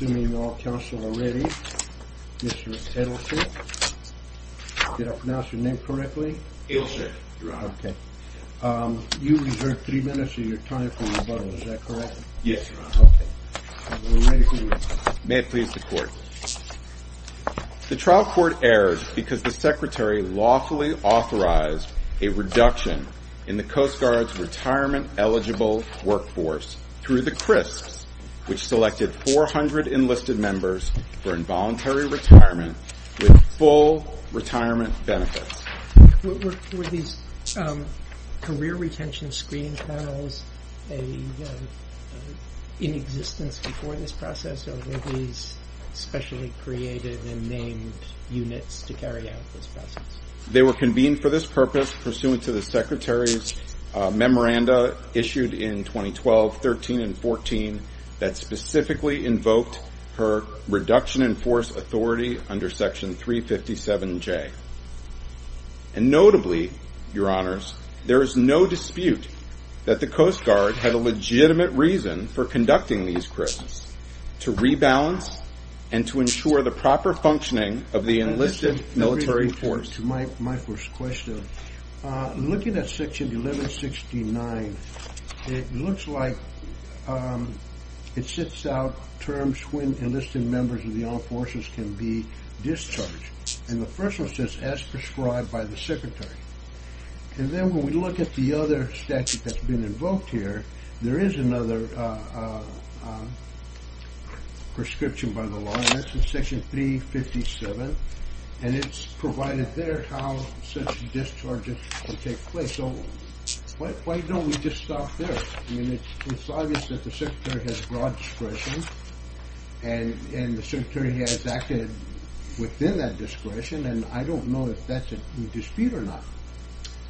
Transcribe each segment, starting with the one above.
The trial court erred because the Secretary lawfully authorized a reduction in the Coast 400 enlisted members for involuntary retirement with full retirement benefits. They were convened for this purpose pursuant to the Secretary's memoranda issued in 2012, 13, and 14 that specifically invoked her reduction in force authority under Section 357J. And notably, your honors, there is no dispute that the Coast Guard had a legitimate reason for conducting these cribs to rebalance and to ensure the proper functioning of the enlisted military force. My first question, looking at Section 1169, it looks like it sets out terms when enlisted members of the armed forces can be discharged. And the first one says as prescribed by the Secretary. And then when we look at the other statute that's been invoked here, there is another prescription by the law. And that's in Section 357. And it's provided there how such discharges take place. So why don't we just stop there? I mean, it's obvious that the Secretary has broad discretion. And the Secretary has acted within that discretion. And I don't know if that's a dispute or not.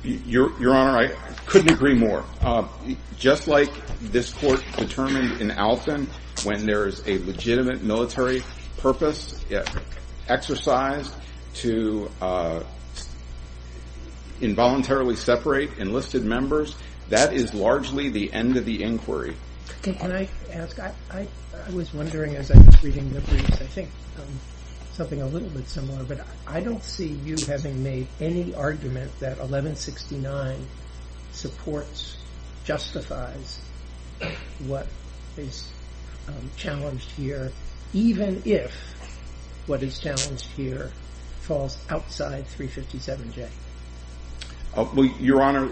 Your honor, I couldn't agree more. Just like this court determined in Alton, when there is a legitimate military purpose exercised to involuntarily separate enlisted members, that is largely the end of the inquiry. Can I ask, I was wondering as I was reading the briefs, I think something a little bit similar, but I don't see you having made any argument that 1169 supports, justifies what is challenged here, even if what is challenged here falls outside 357J. Well, your honor,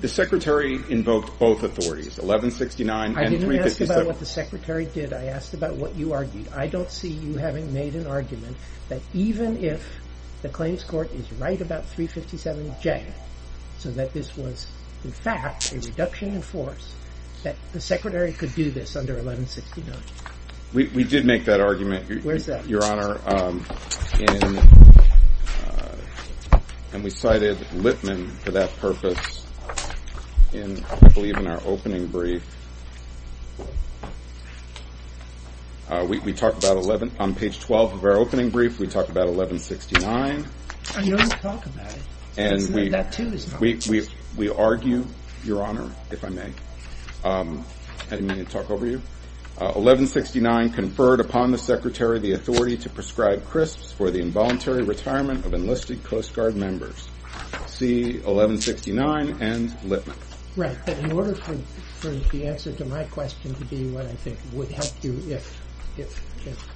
the Secretary invoked both authorities, 1169 and 357. I didn't ask about what the Secretary did. I asked about what you argued. I don't see you having made an argument that even if the claims court is right about 357J, so that this was in fact a reduction in force, that the Secretary could do this under 1169. We did make that argument, your honor. And we cited Lipman for that purpose, I believe, in our opening brief. We talked about 11, on page 12 of our opening brief, we talked about 1169. I know you talk about it. And we argue, your honor, if I may, I didn't mean to talk over you, 1169 conferred upon the Secretary the authority to prescribe crisps for the involuntary retirement of enlisted Coast Guard members. See 1169 and Lipman. Right, but in order for the answer to my question to be what I think would help you if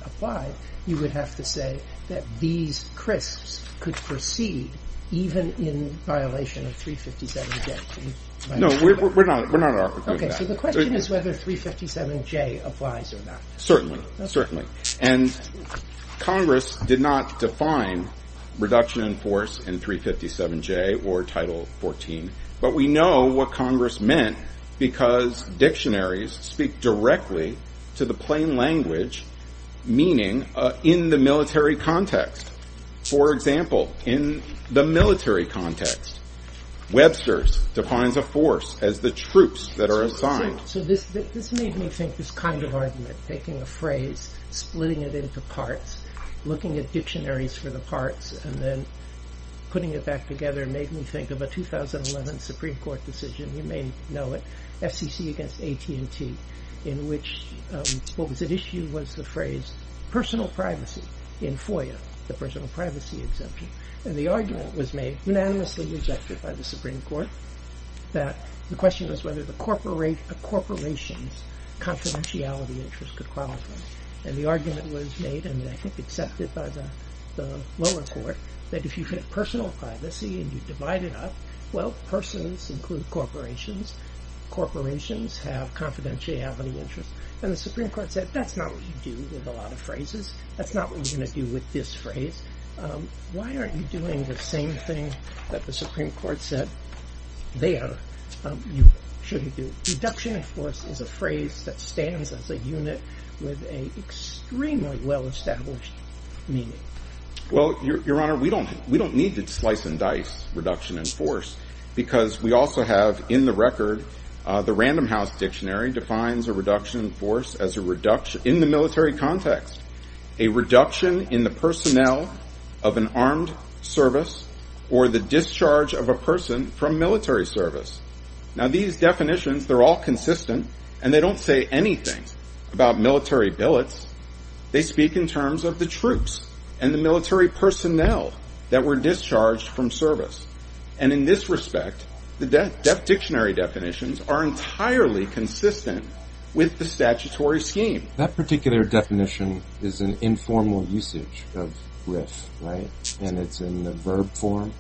applied, you would have to say that these crisps could proceed even in violation of 357J. No, we're not arguing that. Okay, so the question is whether 357J applies or not. Certainly, certainly. And Congress did not define reduction in force in 357J or Title 14. But we know what Congress meant, because dictionaries speak directly to the plain language, meaning in the military context. For example, in the military context, Webster's defines a force as the troops that are assigned. So this made me think this kind of argument, taking a phrase, splitting it into parts, looking at dictionaries for the parts, and then putting it back together made me think of a 2011 Supreme Court decision, you may know it, FCC against AT&T, in which what was at issue was the phrase personal privacy in FOIA, the personal privacy exemption. And the argument was made, unanimously rejected by the Supreme Court, that the question was whether a corporation's confidentiality interest could qualify. And the argument was made, and I think accepted by the lower court, that if you had personal privacy and you divide it up, well, persons include corporations. Corporations have confidentiality interests. And the Supreme Court said, that's not what you do with a lot of phrases. That's not what you're going to do with this phrase. Why aren't you doing the same thing that the Supreme Court said there should you do? Reduction in force is a phrase that stands as a unit with an extremely well-established meaning. Well, Your Honor, we don't need to slice and dice reduction in force, because we also have, in the record, the Random House Dictionary defines a reduction in force as a reduction in the military context, a reduction in the personnel of an armed service, or the discharge of a person from military service. Now, these definitions, they're all consistent, and they don't say anything about military billets. They speak in terms of the troops and the military personnel that were discharged from service. And in this respect, the dictionary definitions are entirely consistent with the statutory scheme. That particular definition is an informal usage of RIF, right? And it's in the verb form?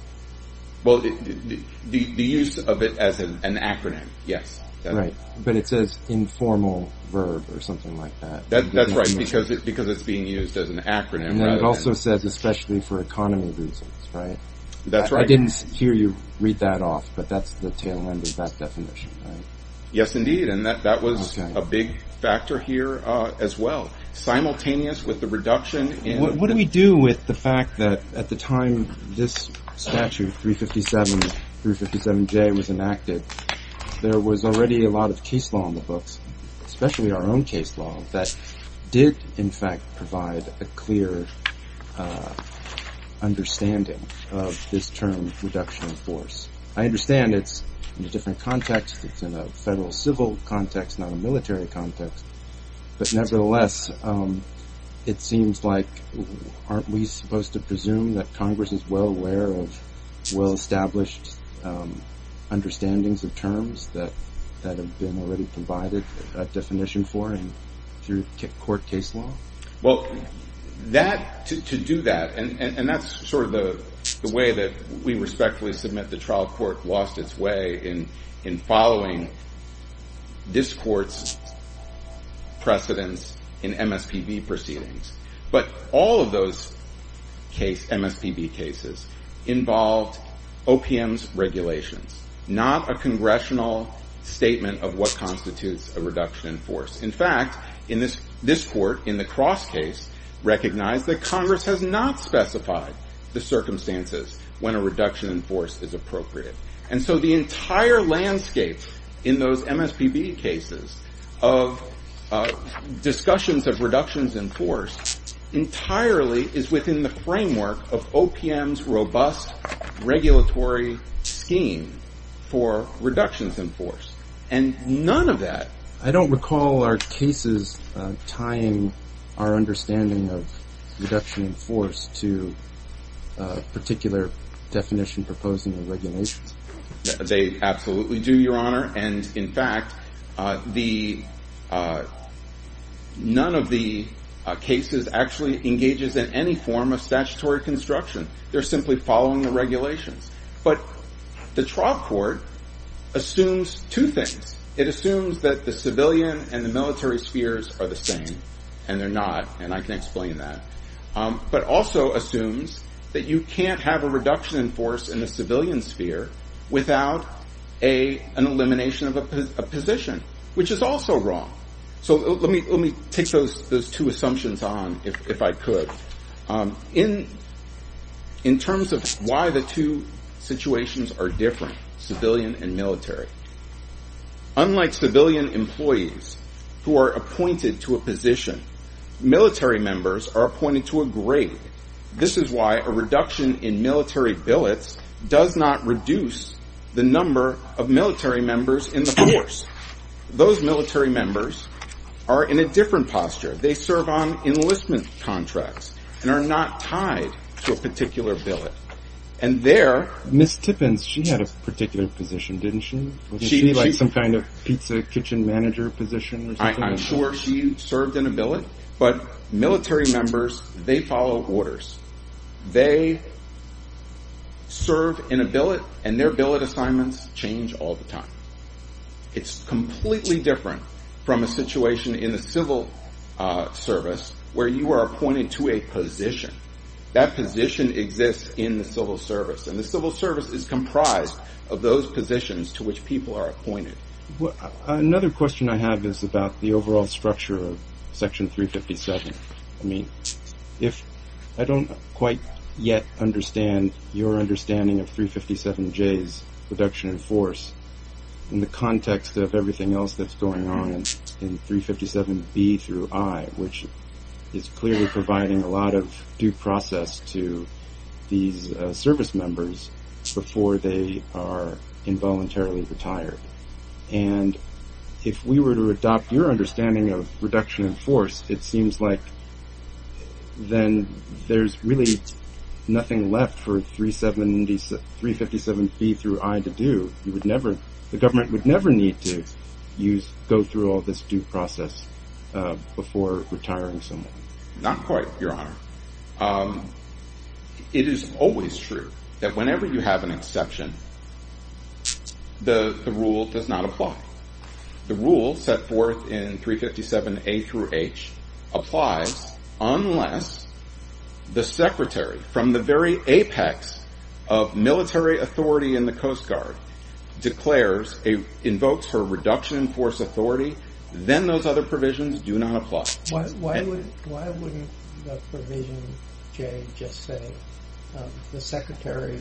Well, the use of it as an acronym, yes. Right, but it says informal verb or something like that. That's right, because it's being used as an acronym. And it also says especially for economy reasons, right? That's right. I didn't hear you read that off, but that's the tail end of that definition, right? Yes, indeed. And that was a big factor here as well. Simultaneous with the reduction in... What do we do with the fact that at the time this statute 357J was enacted, there was already a lot of case law in the books, especially our own case law, that did in fact provide a clear understanding of this term reduction in force. I understand it's in a different context. It's in a federal civil context, not a military context. But nevertheless, it seems like, aren't we supposed to presume that Congress is well aware of well-established understandings of terms that have been already provided a definition for through court case law? Well, to do that, and that's sort of the way that we respectfully submit the trial court lost its in following this court's precedence in MSPB proceedings. But all of those MSPB cases involved OPM's regulations, not a congressional statement of what constitutes a reduction in force. In fact, this court in the cross case recognized that Congress has not specified the circumstances when a reduction in force is appropriate. And so the entire landscape in those MSPB cases of discussions of reductions in force entirely is within the framework of OPM's robust regulatory scheme for reductions in force. And none of that... particular definition proposed in the regulations? They absolutely do, Your Honor. And in fact, none of the cases actually engages in any form of statutory construction. They're simply following the regulations. But the trial court assumes two things. It assumes that the civilian and the military spheres are the same, and they're not, and I can explain that. But also assumes that you can't have a reduction in force in the civilian sphere without an elimination of a position, which is also wrong. So let me take those two assumptions on if I could. In terms of why the two situations are different, civilian and military, unlike civilian employees who are appointed to a position, military members are appointed to a position where a reduction in military billets does not reduce the number of military members in the force. Those military members are in a different posture. They serve on enlistment contracts and are not tied to a particular billet. And they're... Ms. Tippins, she had a particular position, didn't she? She had some kind of pizza kitchen manager position or something? I'm sure she served in a billet, but military members, they follow orders. They serve in a billet, and their billet assignments change all the time. It's completely different from a situation in the civil service where you are appointed to a position. That position exists in the civil service, and the civil service is comprised of those positions to which people are appointed. Another question I have is about the overall structure of Section 357. I don't quite yet understand your understanding of 357J's reduction in force in the context of everything else that's going on in 357B through I, which is clearly providing a lot of due process to these service members before they are retired. It seems like there's really nothing left for 357B through I to do. The government would never need to go through all this due process before retiring someone. Not quite, Your Honor. It is always true that whenever you have an exception, the rule does not apply. The rule set forth in 357A through H applies unless the secretary, from the very apex of military authority in the Coast Guard, invokes her reduction in force authority, then those other provisions do not apply. Why wouldn't the provision, Jay, just say the secretary,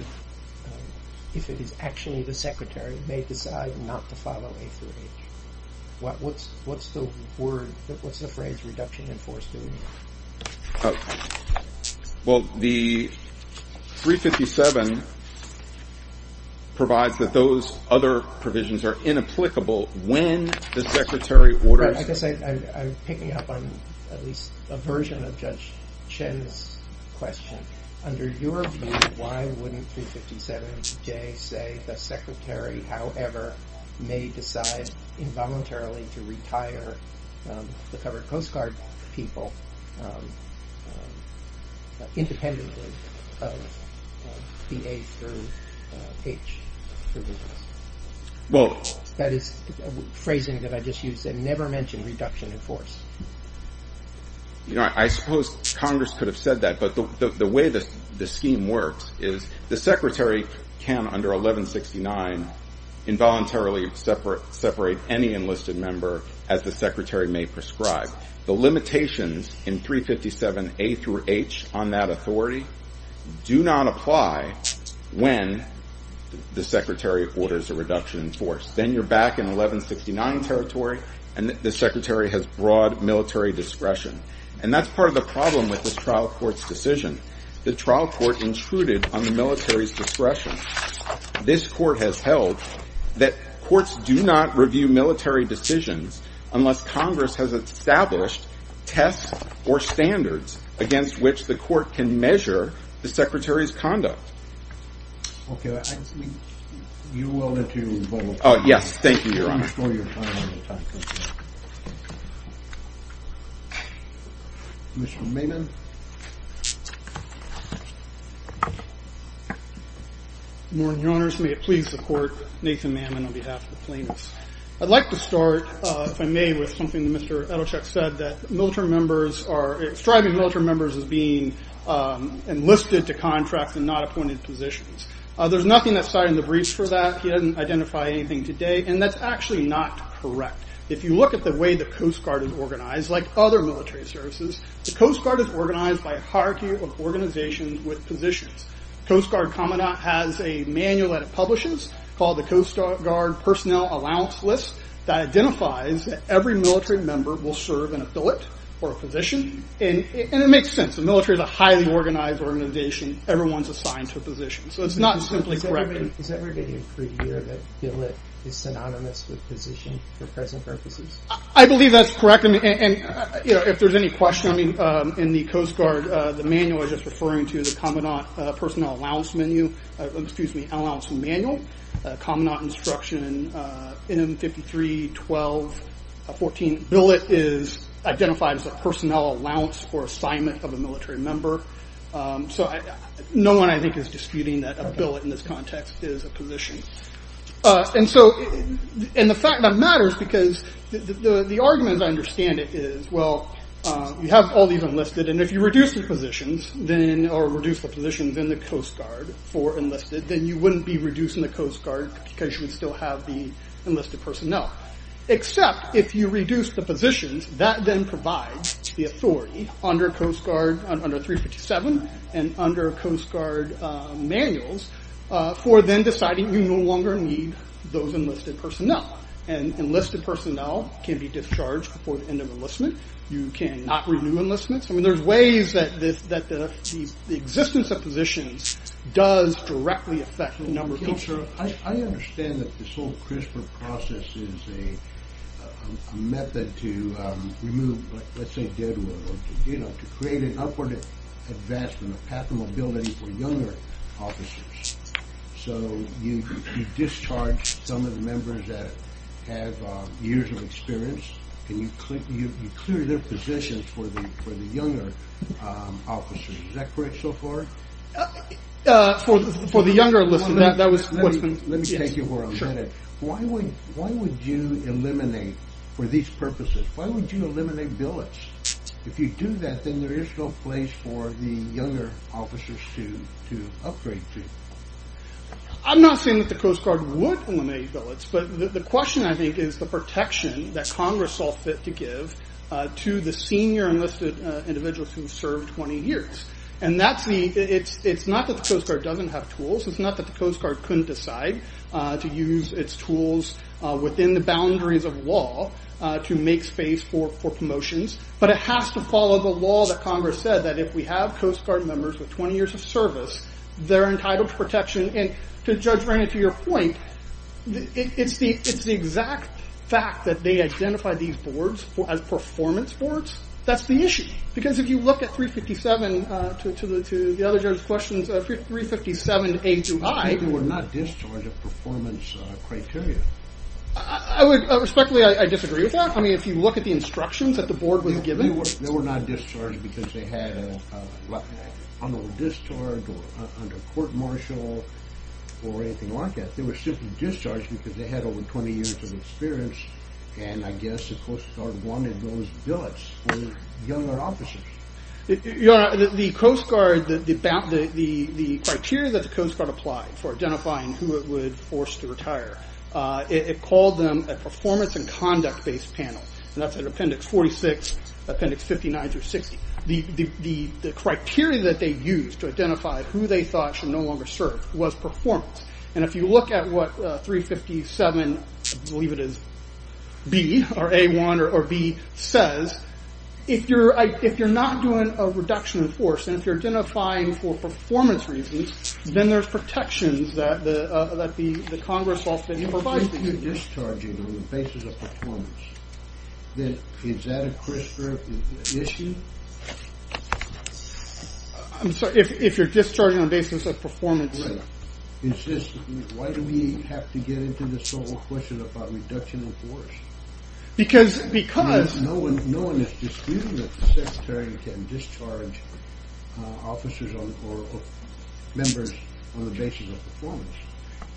if it is actually the secretary, may decide not to follow A through H? What's the phrase reduction in force doing here? Well, the 357 provides that those other provisions are inapplicable when the secretary orders... I guess I'm picking up on at least a version of Judge Chen's question. Under your view, why wouldn't 357J say the secretary, however, may decide involuntarily to retire the covered Coast Guard people independently of B, A through H provisions? Well, that is phrasing that I just used. Never mention reduction in force. I suppose Congress could have said that, but the way the scheme works is the secretary can, under 1169, involuntarily separate any enlisted member as the secretary may prescribe. The limitations in 357A through H on that authority do not apply when the secretary orders a reduction in force. Then you're back in 1169 territory, the secretary has broad military discretion. That's part of the problem with this trial court's decision. The trial court intruded on the military's discretion. This court has held that courts do not review military decisions unless Congress has established tests or standards against which the court can measure the secretary's conduct. Okay. You're welcome to vote. Oh, yes. Thank you, Your Honor. Mr. Maimon. Good morning, Your Honors. May it please the court, Nathan Maimon on behalf of the plaintiffs. I'd like to start, if I may, with something that Mr. Edelcheck said, that striving military members as being enlisted to contracts and not appointed positions. There's nothing that started the breach for that. He didn't identify anything today, and that's actually not correct. If you look at the way the Coast Guard is organized, like other military services, the Coast Guard is organized by a hierarchy of organizations with positions. Coast Guard Commandant has a manual that it publishes called the Coast Guard Personnel Allowance List that identifies that every military is a highly organized organization. Everyone's assigned to a position. So it's not simply correct. Is that we're getting a preview that billet is synonymous with position for present purposes? I believe that's correct. If there's any question in the Coast Guard, the manual is just referring to the Commandant Personnel Allowance Manual. Commandant Instruction M-53-12-14, billet is identified as a personnel allowance for assignment of a military member. So no one, I think, is disputing that a billet in this context is a position. And the fact that matters, because the argument I understand it is, well, you have all these enlisted, and if you reduce the positions in the Coast Guard for enlisted, then you wouldn't be enlisted personnel. Except if you reduce the positions, that then provides the authority under 357 and under Coast Guard manuals for then deciding you no longer need those enlisted personnel. And enlisted personnel can be discharged before the end of enlistment. You can not renew enlistments. I mean, there's ways that the existence of positions does directly affect number of... I understand that this whole CRISPR process is a method to remove, let's say, deadwood, or to create an upward advancement, a path of mobility for younger officers. So you discharge some of the members that have years of experience, and you clear their positions for the younger officers. Is that correct so far? For the younger enlisted, that was what's been... Let me take you for a minute. Why would you eliminate, for these purposes, why would you eliminate billets? If you do that, then there is no place for the younger officers to upgrade to. I'm not saying that the Coast Guard would eliminate billets, but the question, I think, is the protection that Congress saw fit to give to the senior enlisted individuals who served 20 years. It's not that the Coast Guard doesn't have tools. It's not that the Coast Guard couldn't decide to use its tools within the boundaries of law to make space for promotions, but it has to follow the law that Congress said that if we have Coast Guard members with 20 years of service, they're entitled to protection. And to Judge Ranney, to your point, it's the exact fact that they identify these boards as performance boards, that's the issue. Because if you look at 357, to the other judge's questions, 357A through I... They were not discharged of performance criteria. Respectfully, I disagree with that. If you look at the instructions that the board was given... They were not discharged because they had an unlawful discharge or under court martial or anything like that. They were simply discharged because they had over 20 years of experience and I guess the Coast Guard wanted those billets for younger officers. The Coast Guard, the criteria that the Coast Guard applied for identifying who it would force to retire, it called them a performance and conduct based panel. And that's an appendix 46 appendix 59 through 60. The criteria that they used to identify who they thought should no longer serve was performance. And if you look at what 357, I believe it is B or A1 or B says, if you're not doing a reduction in force and if you're identifying for performance reasons, then there's protections that the Congress also provides. If you're discharging on the basis of performance, is that a CRISPR issue? I'm sorry, if you're discharging on the basis of performance... Is this... Why do we have to get into this whole question about reduction in force? Because... Because... No one is disputing that the secretary can discharge officers or members on the basis of performance.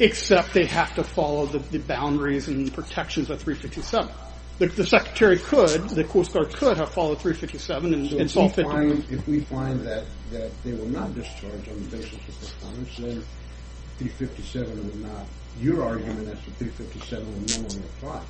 Except they have to follow the boundaries and protections of 357. The secretary could, the Coast Guard could have followed 357 and solved it. If we find that they were not discharged on the basis of performance, then 357 would not... Your argument is that 357 would no longer apply.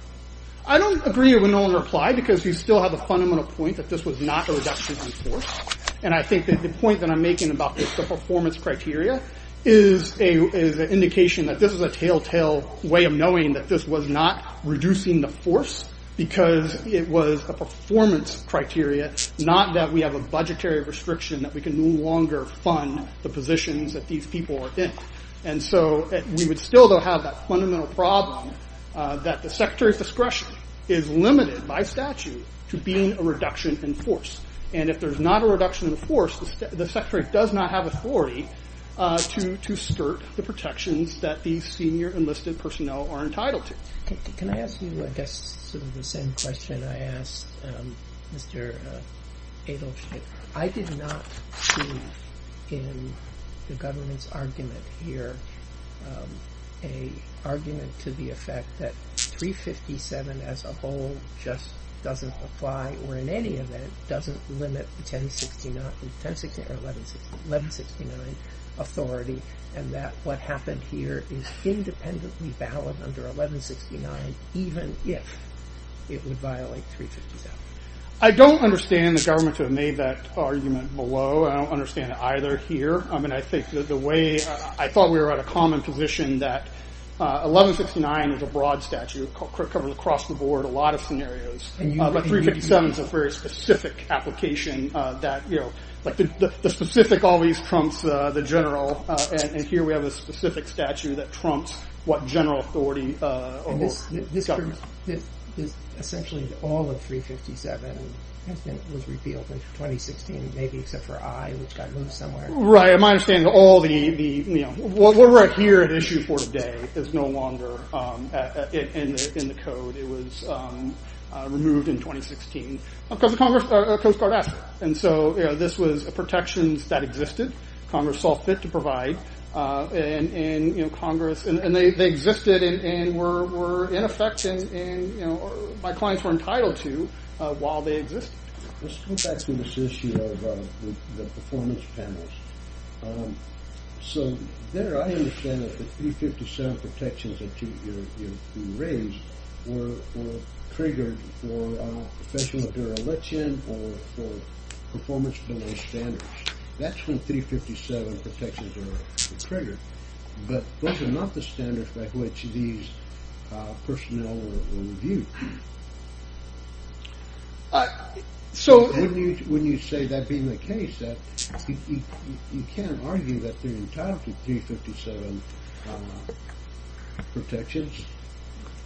I don't agree with no longer apply because you still have a fundamental point that this was not a reduction in force. And I think that the point that I'm making about the performance criteria is an indication that this is a telltale way of knowing that this was not reducing the force because it was a performance criteria, not that we have a budgetary restriction that we can no longer fund the positions that these people are in. And so we would still have that fundamental problem that the secretary's discretion is limited by statute to being a reduction in force. And if there's not a reduction in force, the secretary does not have authority to skirt the protections that these senior enlisted personnel are entitled to. Can I ask you, I guess, sort of the same question I asked Mr. Adelstein? I did not see in the government's argument here a argument to the effect that 357 as a whole just doesn't apply or in any event doesn't limit the 1069 or 1169 authority and that what happened here is independently valid under 1169 even if it would violate 357. I don't understand the government to have made that argument below. I don't understand it either here. I mean, I think the way... I thought we were at a common position that 1169 is a broad statute covered across the board, a lot of scenarios, but 357 is a very specific application that, you know, like the specific always trumps the general and here we have a specific statute that trumps what general authority... And this is essentially all of 357 has been, was repealed in 2016, maybe except for I, which got moved somewhere. Right, my understanding is all the, you know, what we're at here at issue for today is no longer in the code. It was removed in 2016 because of Coast Guard action. And so, you know, this was protections that existed. Congress saw fit to provide and, you know, Congress and they existed and were in effect and, you know, my clients were entitled to while they existed. Let's go back to this issue of the performance panels. So there, I understand that the 357 protections that you raised were triggered for professional dereliction or for performance below standards. That's when 357 protections are triggered, but those are not the standards by which these personnel were reviewed. So when you say that being the case that you can't argue that they're entitled to 357 protections,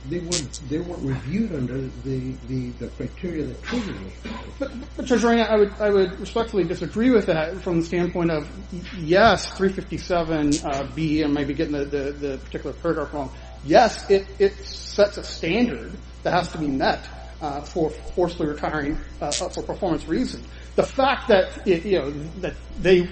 they weren't reviewed under the criteria that triggered it. Judge Ryan, I would respectfully disagree with that from the standpoint of yes, 357 B and maybe getting the particular paragraph wrong. Yes, it sets a standard that has to be met for forcefully retiring for performance reasons. The fact that, you know, that they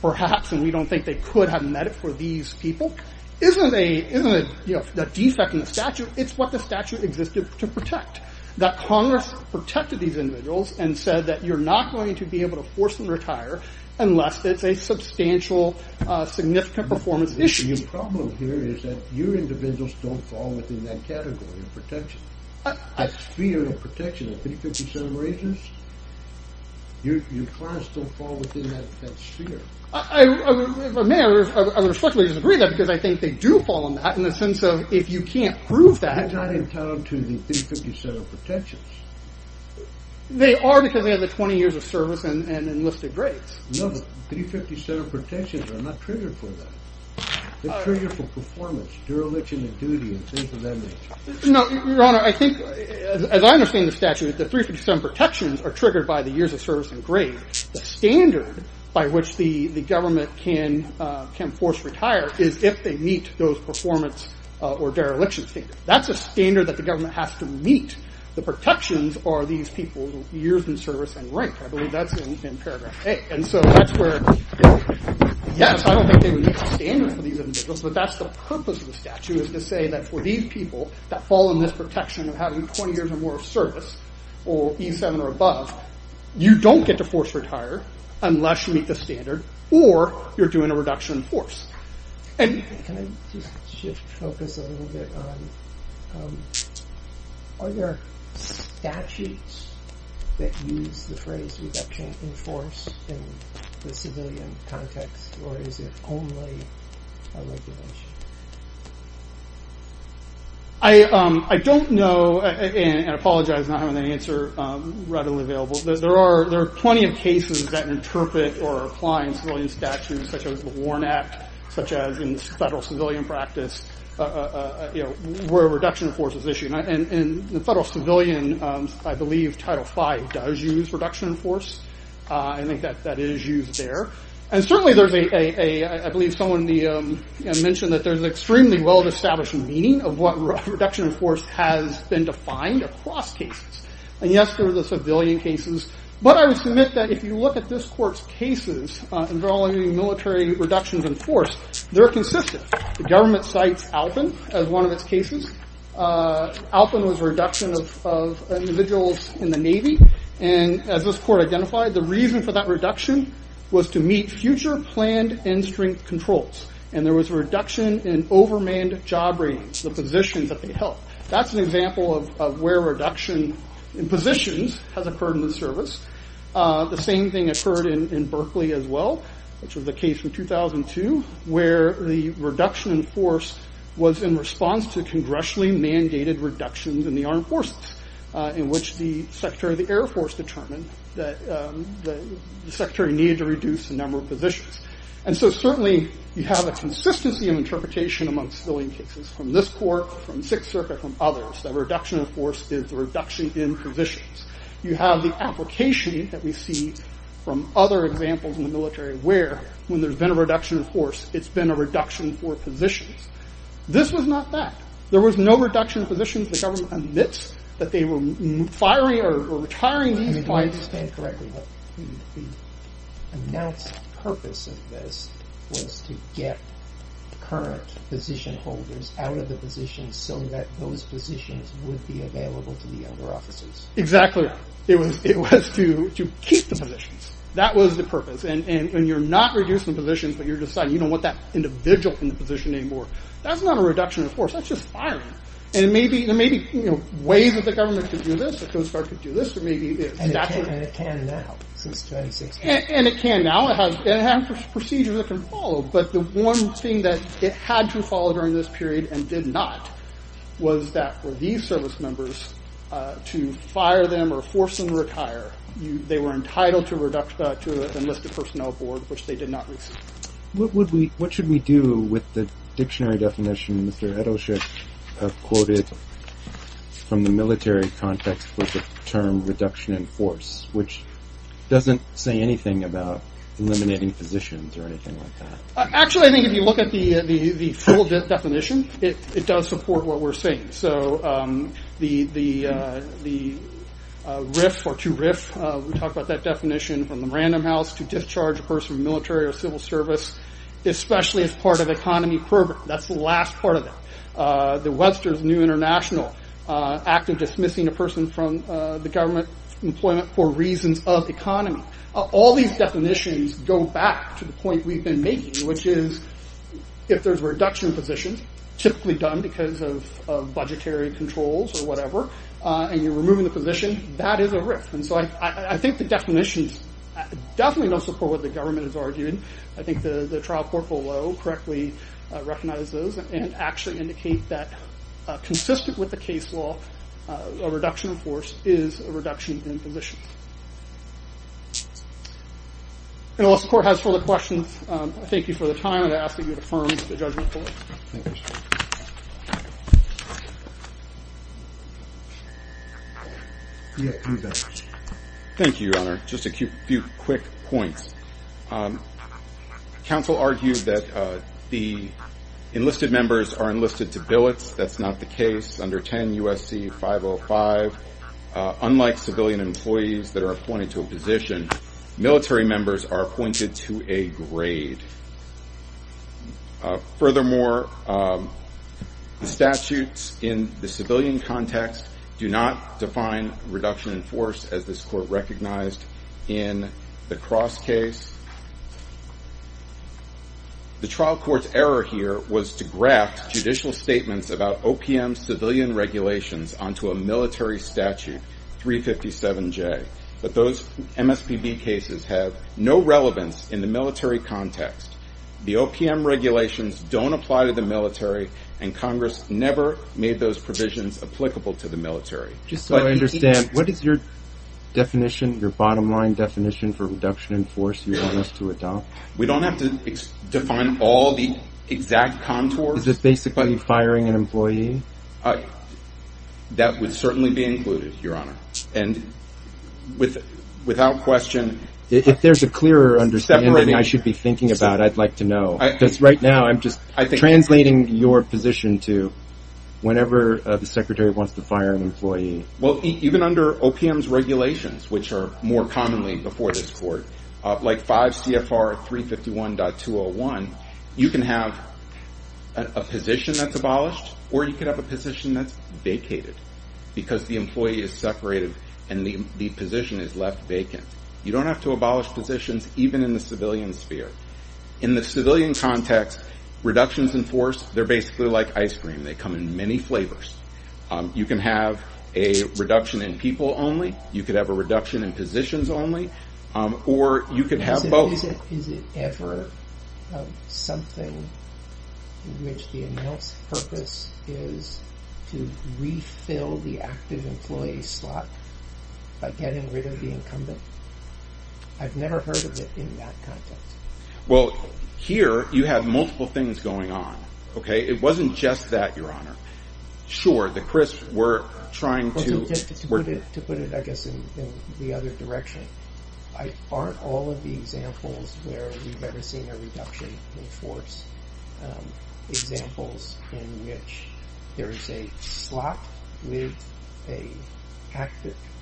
perhaps and we don't think they could have met it for these people isn't a, isn't a, you know, a defect in the statute. It's what the statute existed to protect. That Congress protected these individuals and said that you're not going to be able to force them to retire unless it's a substantial significant performance issue. Your problem here is that your individuals don't fall within that category of protection. That sphere of protection, the 357 raisers, your class don't fall within that sphere. I respectfully disagree with that because I think they do fall in that in the sense of if you can't prove that. They're not entitled to the 357 protections. They are because they have the 20 years of service and enlisted grades. No, the 357 protections are not triggered for that. They're triggered for performance, dereliction of duty, and things of that nature. No, your honor, I think as I understand the statute, the 357 protections are triggered by the years of service and grade. The standard by which the government can force retire is if they meet those performance or dereliction standards. That's a standard that the government has to meet. The protections are these people's years in service and rank. I believe that's in paragraph A. Yes, I don't think they would meet the standard for these individuals, but that's the purpose of the statute is to say that for these people that fall in this protection of having 20 years or more of service or E7 or above, you don't get to force retire unless you meet the standard or you're doing a reduction in force. Can I just shift focus a little bit on, are there statutes that use the phrase we've got can't enforce in the civilian context or is it only a regulation? I don't know, and I apologize for not having an answer readily available. There are plenty of cases that interpret or apply in civilian statutes such as the Warren Act, such as in federal civilian practice, where reduction of force is issued. In the federal civilian, I believe Title V does use reduction of force. I think that is used there. Certainly, I believe someone mentioned that there's extremely well-established meaning of what reduction of force has been defined across cases. Yes, there are the civilian cases, but I would submit that if you look at this court's cases involving military reductions in force, they're consistent. The government cites Alpen as one of its cases. Alpen was a reduction of individuals in the Navy. As this court identified, the reason for that reduction was to meet future planned end strength controls. There was a reduction in overmanned job ratings, the positions that they held. That's an example of where reduction in positions has occurred in service. The same thing occurred in Berkeley as well, which was the case in 2002, where the reduction in force was in response to congressionally mandated reductions in the armed forces, in which the Secretary of the Air Force determined that the Secretary needed to reduce the number of positions. Certainly, you have a consistency of interpretation amongst civilian cases from this court, from Sixth Circuit, from others, that reduction of force is a reduction in positions. You have the application that we see from other examples in the military where, when there's been a reduction in force, it's been a reduction for positions. This was not that. There was no reduction in positions. The government admits that they were firing or retiring these fighters. I mean, do I understand correctly that the announced purpose of this was to get current position holders out of the positions so that those positions would be it was to keep the positions. That was the purpose. When you're not reducing positions, but you're deciding you don't want that individual in the position anymore, that's not a reduction in force. That's just firing. There may be ways that the government could do this. The Coast Guard could do this. It's natural. It can now. It has procedures that can follow. The one thing that it had to follow during this period and did not was that for these service members to fire them or force them to retire, they were entitled to an enlisted personnel board, which they did not receive. What should we do with the dictionary definition Mr. Edelsheib quoted from the military context with the term reduction in force, which doesn't say anything about eliminating positions or anything like that? Actually, I think if you look at the full what we're saying. The RIF or to RIF, we talked about that definition from the Random House to discharge a person from military or civil service, especially as part of economy program. That's the last part of it. The Webster's New International act of dismissing a person from the government employment for reasons of economy. All these definitions go back to the point we've been making, which is if there's a reduction in positions, typically done because of budgetary controls or whatever, and you're removing the position, that is a RIF. I think the definitions definitely don't support what the government has argued. I think the trial court below correctly recognized those and actually indicate that consistent with the case law, a reduction in force is a reduction in positions. Unless the court has further questions, I thank you for the time. I ask that you affirm the judgment. Thank you, Your Honor. Just a few quick points. Counsel argued that the enlisted members are enlisted to billets. That's not the case. Under 10 USC 505, unlike civilian employees that are appointed to a position, military members are appointed to a grade. Furthermore, statutes in the civilian context do not define reduction in force as this court recognized in the cross case. The trial court's error here was to graph judicial statements about OPM civilian regulations onto a military statute, 357J, but those MSPB cases have no relevance in the military context. The OPM regulations don't apply to the military, and Congress never made those provisions applicable to the military. Just so I understand, what is your definition, your bottom line definition for reduction in force you want us to adopt? We don't have to define all the exact contours. Is this basically firing an employee? That would certainly be included, Your Honor. Without question. If there's a clearer understanding I should be thinking about, I'd like to know. Because right now, I'm just translating your position to whenever the secretary wants to fire an employee. Even under OPM's regulations, which are more commonly before this court, like 5 CFR 351.201, you can have a position that's abolished, or you can have a position that's vacated, because the employee is separated and the position is left vacant. You don't have to abolish positions even in the civilian sphere. In the civilian context, reductions in force, they're basically like ice cream. They come in reduction in positions only, or you could have both. Is it ever something in which the announced purpose is to refill the active employee slot by getting rid of the incumbent? I've never heard of it in that context. Here, you have multiple things going on. It wasn't just that, Your Honor. Sure, the CRISP, we're trying to... To put it, I guess, in the other direction, aren't all of the examples where we've ever seen a reduction in force examples in which there is a slot with a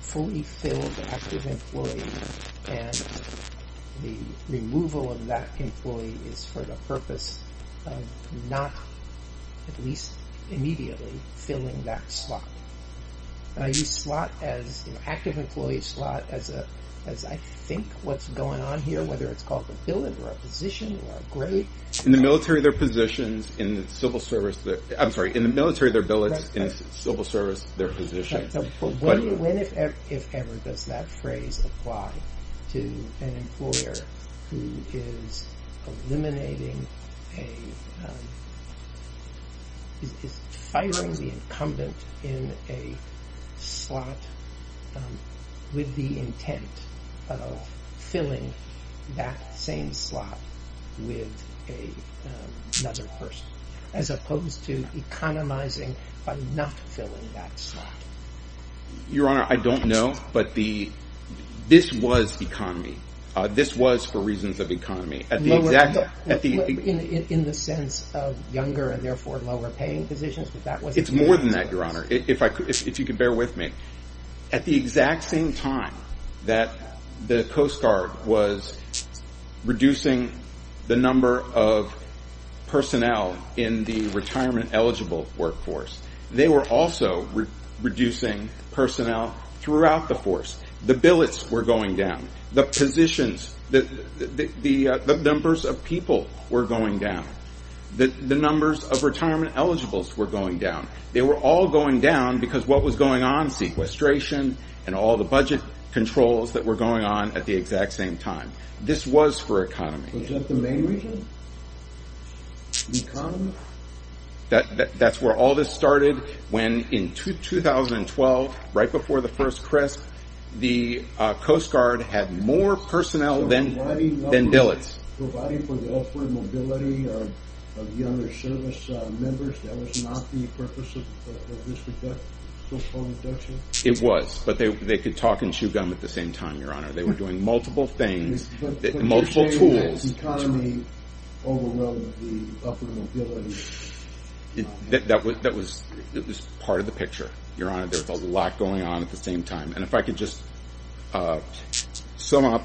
fully filled active employee, and the removal of that employee is for the purpose of not, at least immediately, filling that slot. And I use slot as, active employee slot, as I think what's going on here, whether it's called a billet or a position or a grade. In the military, they're positions in the civil service that... I'm sorry, in the military, they're billets in civil service, they're positions in the military. Does that phrase apply to an employer who is eliminating a... Is firing the incumbent in a slot with the intent of filling that same slot with another person, as opposed to economizing by not filling that slot? Your Honor, I don't know, but this was economy. This was for reasons of economy. In the sense of younger and therefore lower paying positions, but that was... It's more than that, Your Honor, if you could bear with me. At the exact same time that the Coast Guard was reducing the number of personnel in the retirement eligible workforce, they were also reducing personnel throughout the force. The billets were going down, the positions, the numbers of people were going down, the numbers of retirement eligibles were going down. They were all going down because what was going on, sequestration and all the budget controls that were going on at the exact same time. This was for economy. Was that the main reason? The economy? That's where all this started, when in 2012, right before the first CRSP, the Coast Guard had more personnel than billets. Providing for the upward mobility of younger service members, that was not the purpose of social protection? It was, but they could talk and chew gum at the same time, Your Honor. They were doing multiple things, multiple tools. Was economy overwhelming the upward mobility? That was part of the picture, Your Honor. There was a lot going on at the same time. And if I could just sum up,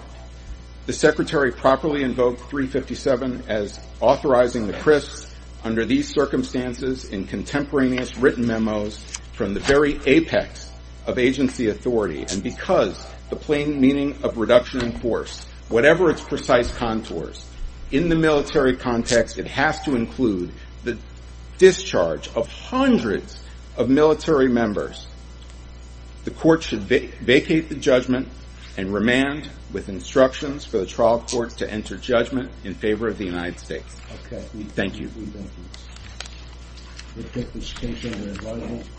the Secretary properly invoked 357 as authorizing the CRSP, under these circumstances, in contemporaneous written memos, from the very apex of agency authority, and because the plain meaning of reduction in force, whatever its precise contours, in the military context, it has to include the discharge of hundreds of military members. The court should vacate the judgment and remand with instructions for the trial court to enter judgment in favor of the United States. Thank you.